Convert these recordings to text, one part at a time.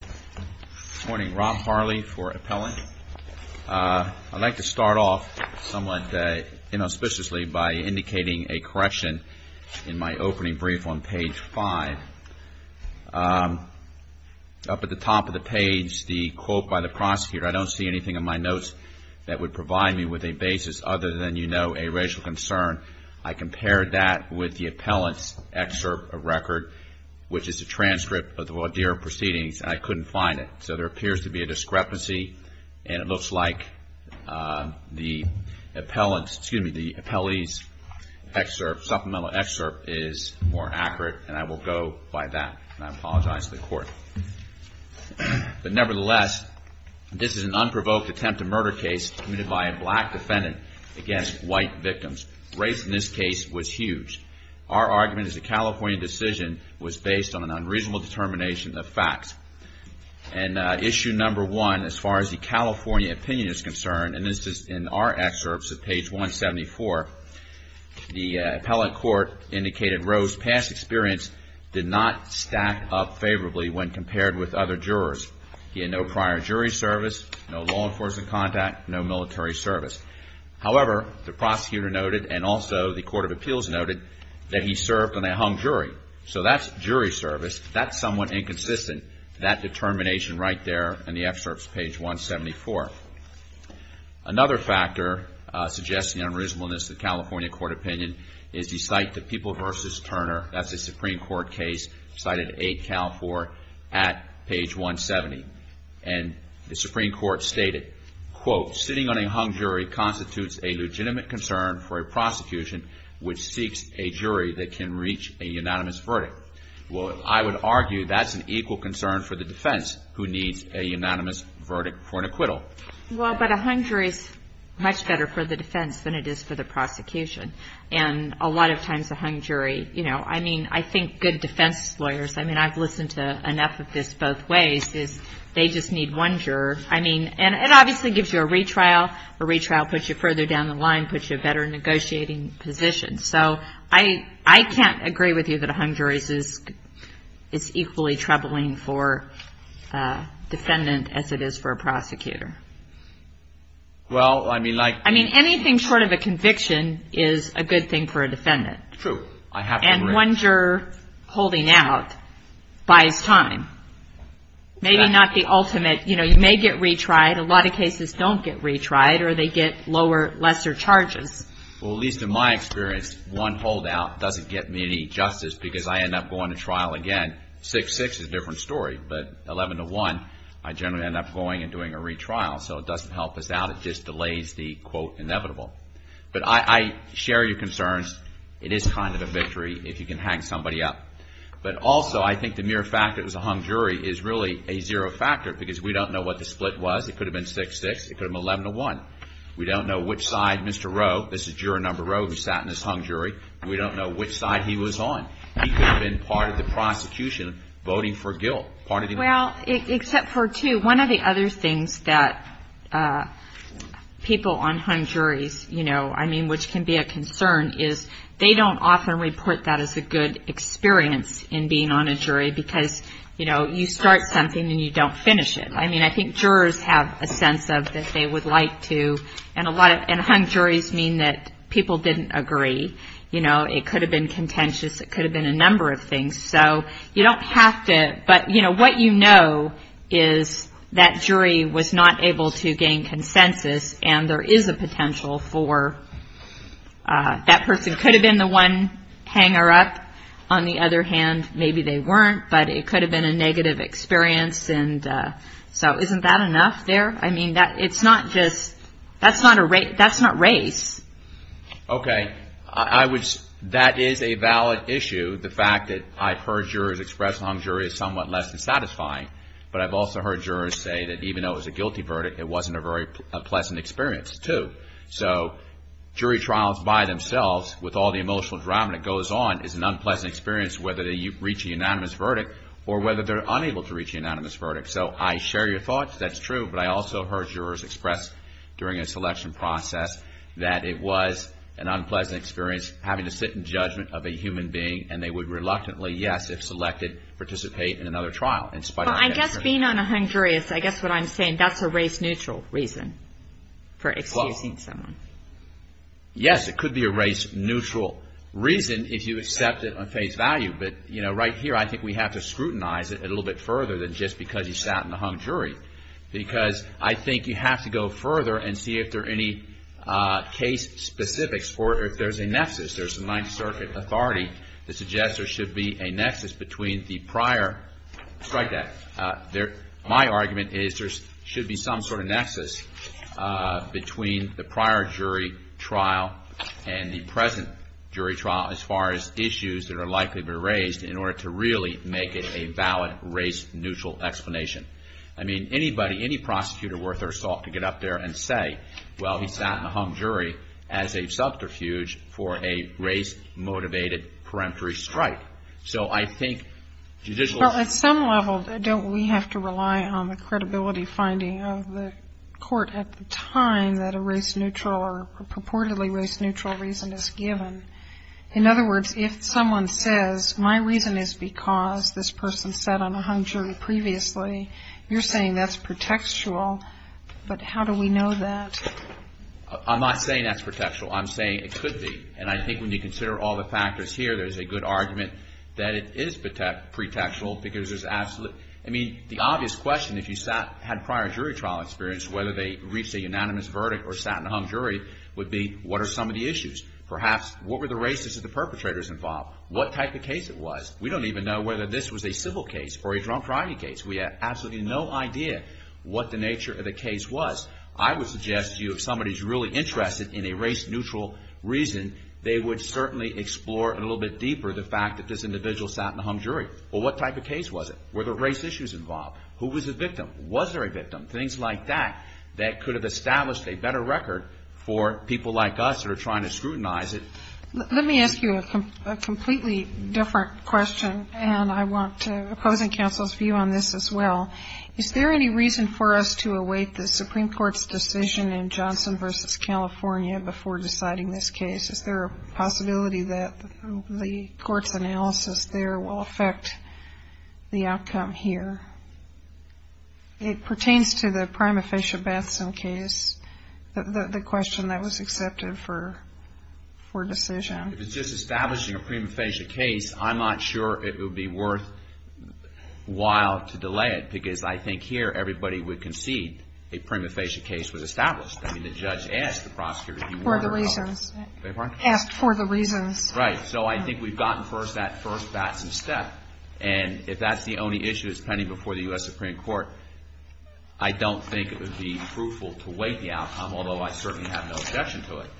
Good morning. Rob Harley for Appellant. I'd like to start off somewhat inauspiciously by indicating a correction in my opening brief on page 5. Up at the top of the page, the quote by the prosecutor, I don't see anything in my notes that would provide me with a basis other than, you know, a racial concern. I compared that with the appellant's excerpt of record, which is a transcript of the Wodear proceedings, and I couldn't find it. So there appears to be a discrepancy, and it looks like the appellant's, excuse me, the appellee's excerpt, supplemental excerpt is more accurate, and I will go by that. And I apologize to the court. But nevertheless, this is an unprovoked attempt at murder case committed by a black defendant against white victims. Race in this case was huge. Our argument as a California decision was based on an unreasonable determination of facts. And issue number one, as far as the California opinion is concerned, and this is in our excerpts at page 174, the appellant court indicated Roe's past experience did not stack up favorably when compared with other jurors. He had no prior jury service, no law enforcement contact, no military service. However, the prosecutor noted, and also the Court of Appeals noted, that he served on a hung jury. So that's jury service. That's somewhat inconsistent, that determination right there in the excerpts, page 174. Another factor suggesting unreasonableness in the California court opinion is the site, the People v. Turner. That's a Supreme Court case cited 8 Cal 4 at page 170. And the Supreme Court stated, quote, sitting on a hung jury constitutes a legitimate concern for a prosecution which seeks a jury that can reach a unanimous verdict. Well, I would argue that's an equal concern for the defense who needs a unanimous verdict for an acquittal. Well, but a hung jury is much better for the defense than it is for the prosecution. And a lot of times a hung jury, you know, I mean, I think good defense lawyers, I mean, I've listened to enough of this both ways, is they just need one juror. I mean, and it obviously gives you a retrial. A retrial puts you further down the line, puts you in a better negotiating position. So I can't agree with you that a hung jury is equally troubling for a defendant as it is for a prosecutor. Well, I mean, like. I mean, anything short of a conviction is a good thing for a defendant. True. I have to agree. And one juror holding out buys time. Maybe not the ultimate, you know, you may get retried. A lot of cases don't get retried or they get lower, lesser charges. Well, at least in my experience, one holdout doesn't get me any justice because I end up going to trial again. 6-6 is a different story. But 11-1, I generally end up going and doing a retrial. So it doesn't help us out. It just delays the quote inevitable. But I share your concerns. It is kind of a victory if you can hang somebody up. But also, I think the mere fact that it was a hung jury is really a zero factor because we don't know what the split was. It could have been 6-6. It could have been 11-1. We don't know which side Mr. Rowe, this is juror number Rowe who sat in this hung jury. We don't know which side he was on. He could have been part of the prosecution voting for guilt. Well, except for two. One of the other things that people on hung juries, you know, I mean, which can be a concern, is they don't often report that as a good experience in being on a jury because, you know, you start something and you don't finish it. I mean, I think jurors have a sense of that they would like to. And hung juries mean that people didn't agree. You know, it could have been contentious. It could have been a number of things. So you don't have to, but, you know, what you know is that jury was not able to gain consensus and there is a potential for that person could have been the one hanger up. On the other hand, maybe they weren't, but it could have been a negative experience. And so isn't that enough there? I mean, it's not just, that's not race. Okay. That is a valid issue, the fact that I've heard jurors express hung jury as somewhat less than satisfying. But I've also heard jurors say that even though it was a guilty verdict, it wasn't a very pleasant experience, too. So jury trials by themselves with all the emotional drama that goes on is an unpleasant experience, whether they reach a unanimous verdict or whether they're unable to reach a unanimous verdict. So I share your thoughts. That's true. But I also heard jurors express during a selection process that it was an unpleasant experience having to sit in judgment of a human being and they would reluctantly, yes, if selected, participate in another trial. Well, I guess being on a hung jury, I guess what I'm saying, that's a race neutral reason for excusing someone. Yes, it could be a race neutral reason if you accept it on face value. But, you know, right here, I think we have to scrutinize it a little bit further than just because you sat in a hung jury. Because I think you have to go further and see if there are any case specifics or if there's a nexus. There's a Ninth Circuit authority that suggests there should be a nexus between the prior. Strike that. My argument is there should be some sort of nexus between the prior jury trial and the present jury trial, as far as issues that are likely to be raised in order to really make it a valid race neutral explanation. I mean, anybody, any prosecutor worth their salt could get up there and say, well, he sat in a hung jury as a subterfuge for a race motivated peremptory strike. So I think judicial. Well, at some level, don't we have to rely on the credibility finding of the court at the time that a race neutral or purportedly race neutral reason is given? In other words, if someone says my reason is because this person sat on a hung jury previously, you're saying that's pretextual. But how do we know that? I'm not saying that's pretextual. I'm saying it could be. And I think when you consider all the factors here, there's a good argument that it is pretextual. I mean, the obvious question, if you had prior jury trial experience, whether they reached a unanimous verdict or sat in a hung jury, would be what are some of the issues? Perhaps what were the races of the perpetrators involved? What type of case it was? We don't even know whether this was a civil case or a drunk driving case. We have absolutely no idea what the nature of the case was. I would suggest to you if somebody's really interested in a race neutral reason, they would certainly explore a little bit deeper the fact that this individual sat in a hung jury. Well, what type of case was it? Were there race issues involved? Who was the victim? Was there a victim? Things like that that could have established a better record for people like us that are trying to scrutinize it. Let me ask you a completely different question, and I want to oppose the counsel's view on this as well. Is there any reason for us to await the Supreme Court's decision in Johnson v. California before deciding this case? Is there a possibility that the court's analysis there will affect the outcome here? It pertains to the prima facie Batson case, the question that was accepted for decision. If it's just establishing a prima facie case, I'm not sure it would be worthwhile to delay it because I think here everybody would concede a prima facie case was established. I mean, the judge asked the prosecutor to be more than helpful. For the reasons. I beg your pardon? Asked for the reasons. Right. So I think we've gotten first that first Batson step, and if that's the only issue that's pending before the U.S. Supreme Court, I don't think it would be fruitful to wait the outcome, although I certainly have no objection to it.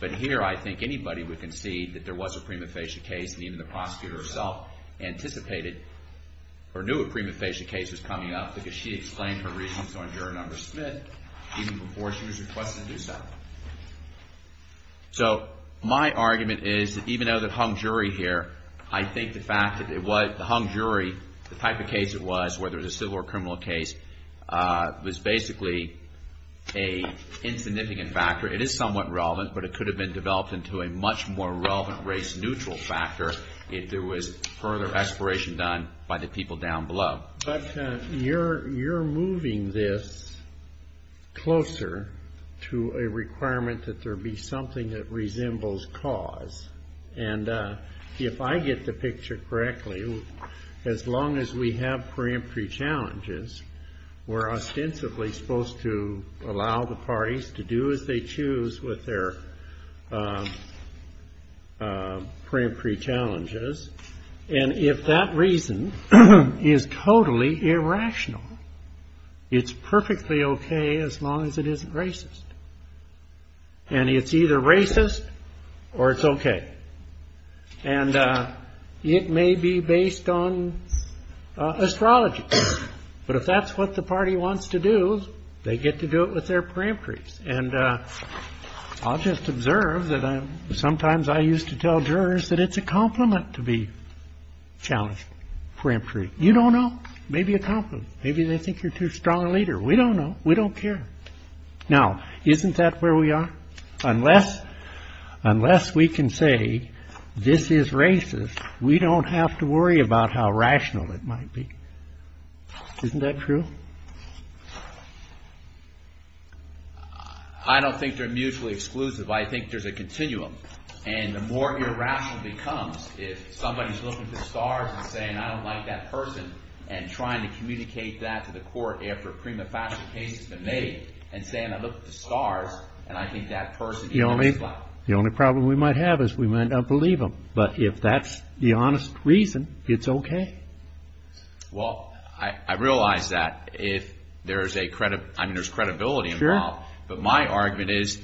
But here I think anybody would concede that there was a prima facie case, and even the prosecutor herself anticipated or knew a prima facie case was coming up because she explained her reasons on Juror Number Smith even before she was requested to do so. So my argument is that even though the hung jury here, I think the fact that it was the hung jury, the type of case it was, whether it was a civil or criminal case, was basically an insignificant factor. It is somewhat relevant, but it could have been developed into a much more relevant race-neutral factor if there was further exploration done by the people down below. But you're moving this closer to a requirement that there be something that resembles cause. And if I get the picture correctly, as long as we have preemptory challenges, we're ostensibly supposed to allow the parties to do as they choose with their preemptory challenges. And if that reason is totally irrational, it's perfectly OK as long as it isn't racist. And it's either racist or it's OK. And it may be based on astrology. But if that's what the party wants to do, they get to do it with their preemptory. And I'll just observe that sometimes I used to tell jurors that it's a compliment to be challenged preemptory. You don't know. Maybe a compliment. Maybe they think you're too strong a leader. We don't know. We don't care. Now, isn't that where we are? Unless we can say this is racist, we don't have to worry about how rational it might be. Isn't that true? I don't think they're mutually exclusive. I think there's a continuum. And the more irrational it becomes if somebody's looking for stars and saying, I don't like that person, and trying to communicate that to the court after a prima facie case has been made and saying, look at the stars, and I think that person... The only problem we might have is we might not believe them. But if that's the honest reason, it's OK. Well, I realize that if there's credibility involved. But my argument is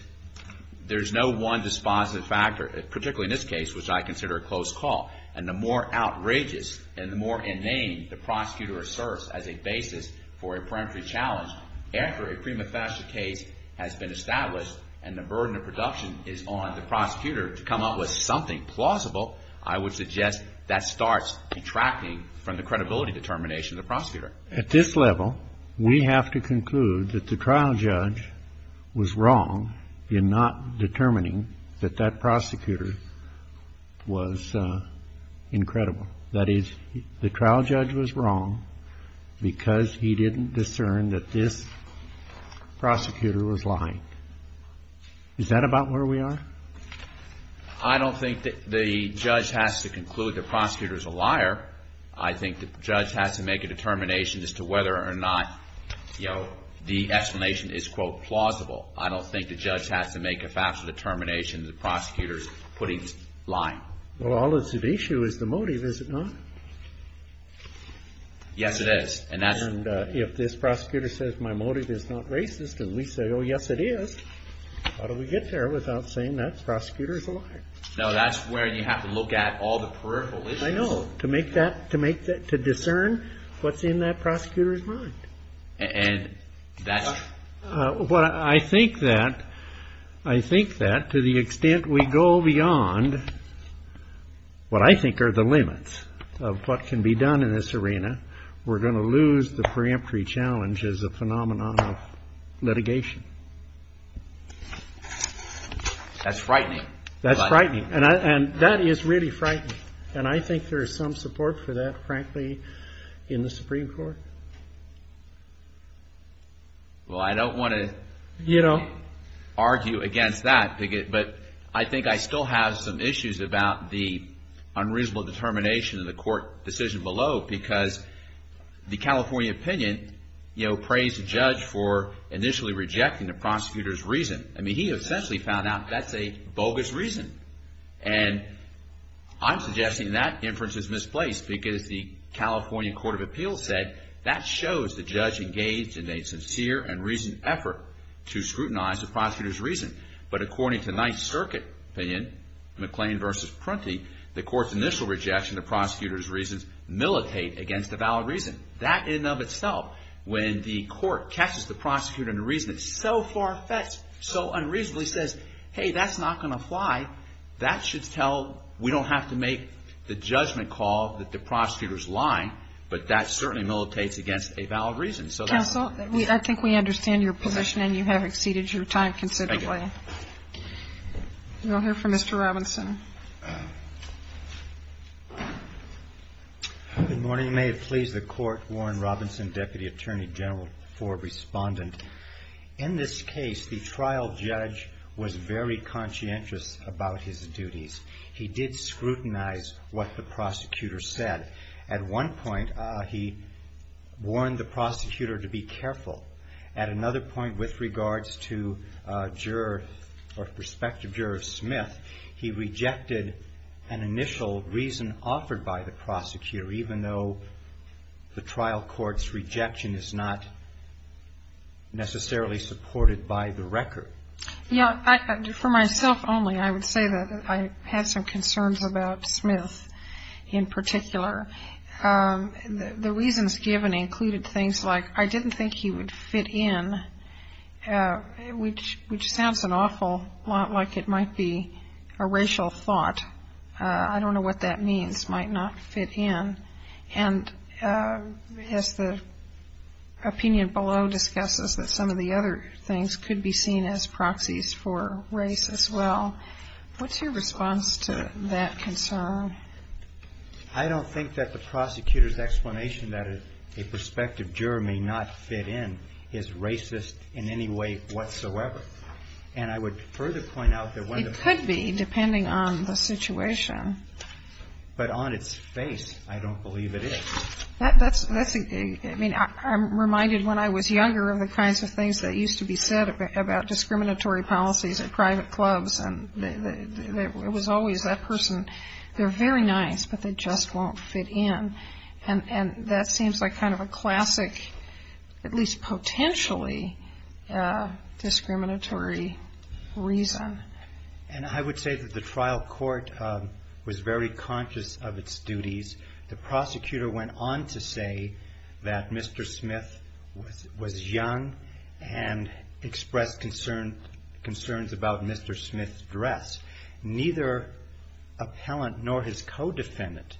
there's no one dispositive factor, particularly in this case, which I consider a close call. And the more outrageous and the more inane the prosecutor asserts as a basis for a preemptory challenge after a prima facie case has been established and the burden of production is on the prosecutor to come up with something plausible, I would suggest that starts detracting from the credibility determination of the prosecutor. At this level, we have to conclude that the trial judge was wrong in not determining that that prosecutor was incredible. That is, the trial judge was wrong because he didn't discern that this prosecutor was lying. Is that about where we are? I don't think the judge has to conclude the prosecutor's a liar. I think the judge has to make a determination as to whether or not, you know, the explanation is, quote, plausible. I don't think the judge has to make a factual determination that the prosecutor's putting...lying. Well, all that's at issue is the motive, is it not? Yes, it is. And if this prosecutor says my motive is not racist and we say, oh, yes, it is, how do we get there without saying that prosecutor's a liar? No, that's where you have to look at all the peripheral issues. I know, to make that, to discern what's in that prosecutor's mind. And that's... Well, I think that to the extent we go beyond what I think are the limits of what can be done in this arena, we're going to lose the preemptory challenge as a phenomenon of litigation. That's frightening. That's frightening. And that is really frightening. And I think there is some support for that, frankly, in the Supreme Court. Well, I don't want to, you know, argue against that. But I think I still have some issues about the unreasonable determination in the court decision below because the California opinion, you know, praised the judge for initially rejecting the prosecutor's reason. I mean, he essentially found out that's a bogus reason. And I'm suggesting that inference is misplaced because the California Court of Appeals said that shows the judge engaged in a sincere and reasoned effort to scrutinize the prosecutor's reason. But according to Ninth Circuit opinion, McLean v. Prunty, the court's initial rejection of the prosecutor's reasons militate against a valid reason. That in and of itself, when the court catches the prosecutor in a reason that's so far-fetched, so unreasonably says, hey, that's not going to fly, that should tell we don't have to make the judgment call that the prosecutor's lying. But that certainly militates against a valid reason. Counsel, I think we understand your position and you have exceeded your time considerably. Thank you. We'll hear from Mr. Robinson. Good morning. May it please the Court, Warren Robinson, Deputy Attorney General for Respondent. In this case, the trial judge was very conscientious about his duties. He did scrutinize what the prosecutor said. At one point, he warned the prosecutor to be careful. At another point, with regards to juror or prospective juror Smith, he rejected an initial reason offered by the prosecutor, even though the trial court's rejection is not necessarily supported by the record. For myself only, I would say that I had some concerns about Smith in particular. The reasons given included things like I didn't think he would fit in, which sounds an awful lot like it might be a racial thought. I don't know what that means, might not fit in. And as the opinion below discusses, that some of the other things could be seen as proxies for race as well. What's your response to that concern? I don't think that the prosecutor's explanation that a prospective juror may not fit in is racist in any way whatsoever. And I would further point out that when the prosecutor- It could be, depending on the situation. But on its face, I don't believe it is. I mean, I'm reminded when I was younger of the kinds of things that used to be said about discriminatory policies at private clubs. And it was always that person, they're very nice, but they just won't fit in. And that seems like kind of a classic, at least potentially, discriminatory reason. And I would say that the trial court was very conscious of its duties. The prosecutor went on to say that Mr. Smith was young and expressed concerns about Mr. Smith's dress. Neither appellant nor his co-defendant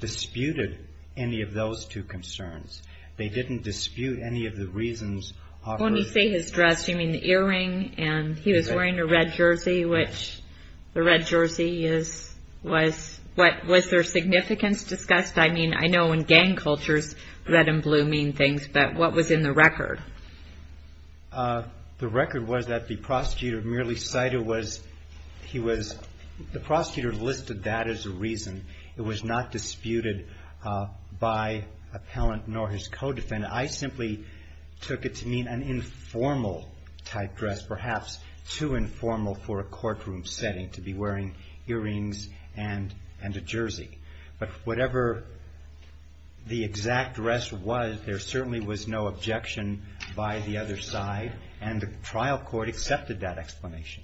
disputed any of those two concerns. They didn't dispute any of the reasons- When you say his dress, you mean the earring, and he was wearing a red jersey, which the red jersey was- Was there significance discussed? I mean, I know in gang cultures red and blue mean things, but what was in the record? The record was that the prosecutor merely cited was he was- The prosecutor listed that as a reason. It was not disputed by appellant nor his co-defendant. I simply took it to mean an informal type dress, perhaps too informal for a courtroom setting to be wearing earrings and a jersey. But whatever the exact dress was, there certainly was no objection by the other side, and the trial court accepted that explanation.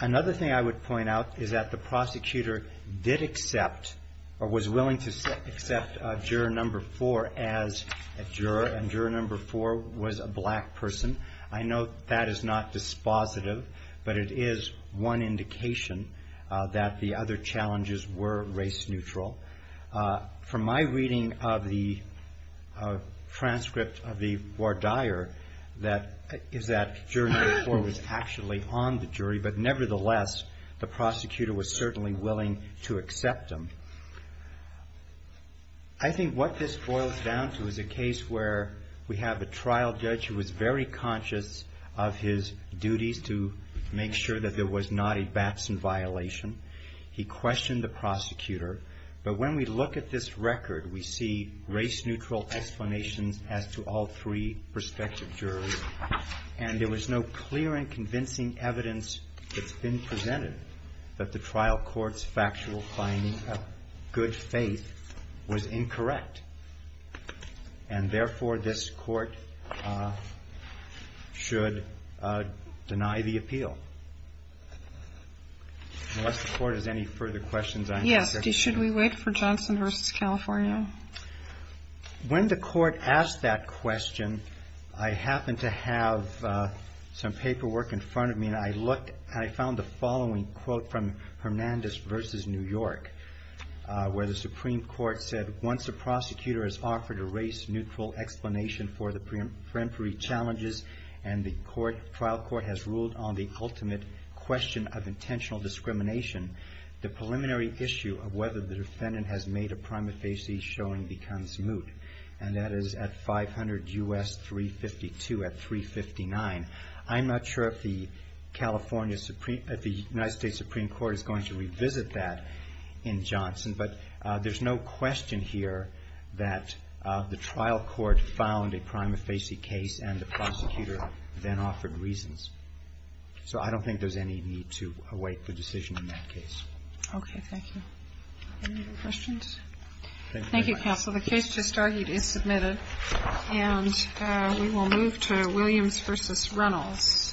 Another thing I would point out is that the prosecutor did accept or was willing to accept juror number four as a juror, and juror number four was a black person. I know that is not dispositive, but it is one indication that the other challenges were race neutral. From my reading of the transcript of the voir dire, that juror number four was actually on the jury, but nevertheless the prosecutor was certainly willing to accept him. I think what this boils down to is a case where we have a trial judge who was very conscious of his duties to make sure that there was not a Batson violation. He questioned the prosecutor, but when we look at this record, we see race neutral explanations as to all three prospective jurors, and there was no clear and convincing evidence that's been presented that the trial court's factual finding of good faith was incorrect. And therefore, this court should deny the appeal. Unless the court has any further questions, I'm concerned. Yes, should we wait for Johnson v. California? When the court asked that question, I happened to have some paperwork in front of me, and I found the following quote from Hernandez v. New York, where the Supreme Court said, once a prosecutor has offered a race neutral explanation for the preemptory challenges and the trial court has ruled on the ultimate question of intentional discrimination, the preliminary issue of whether the defendant has made a prima facie showing becomes moot, and that is at 500 U.S. 352 at 359. I'm not sure if the United States Supreme Court is going to revisit that in Johnson, but there's no question here that the trial court found a prima facie case and the prosecutor then offered reasons. So I don't think there's any need to await the decision in that case. Okay. Thank you. Any other questions? Thank you, counsel. The case just argued is submitted, and we will move to Williams v. Reynolds. Thank you.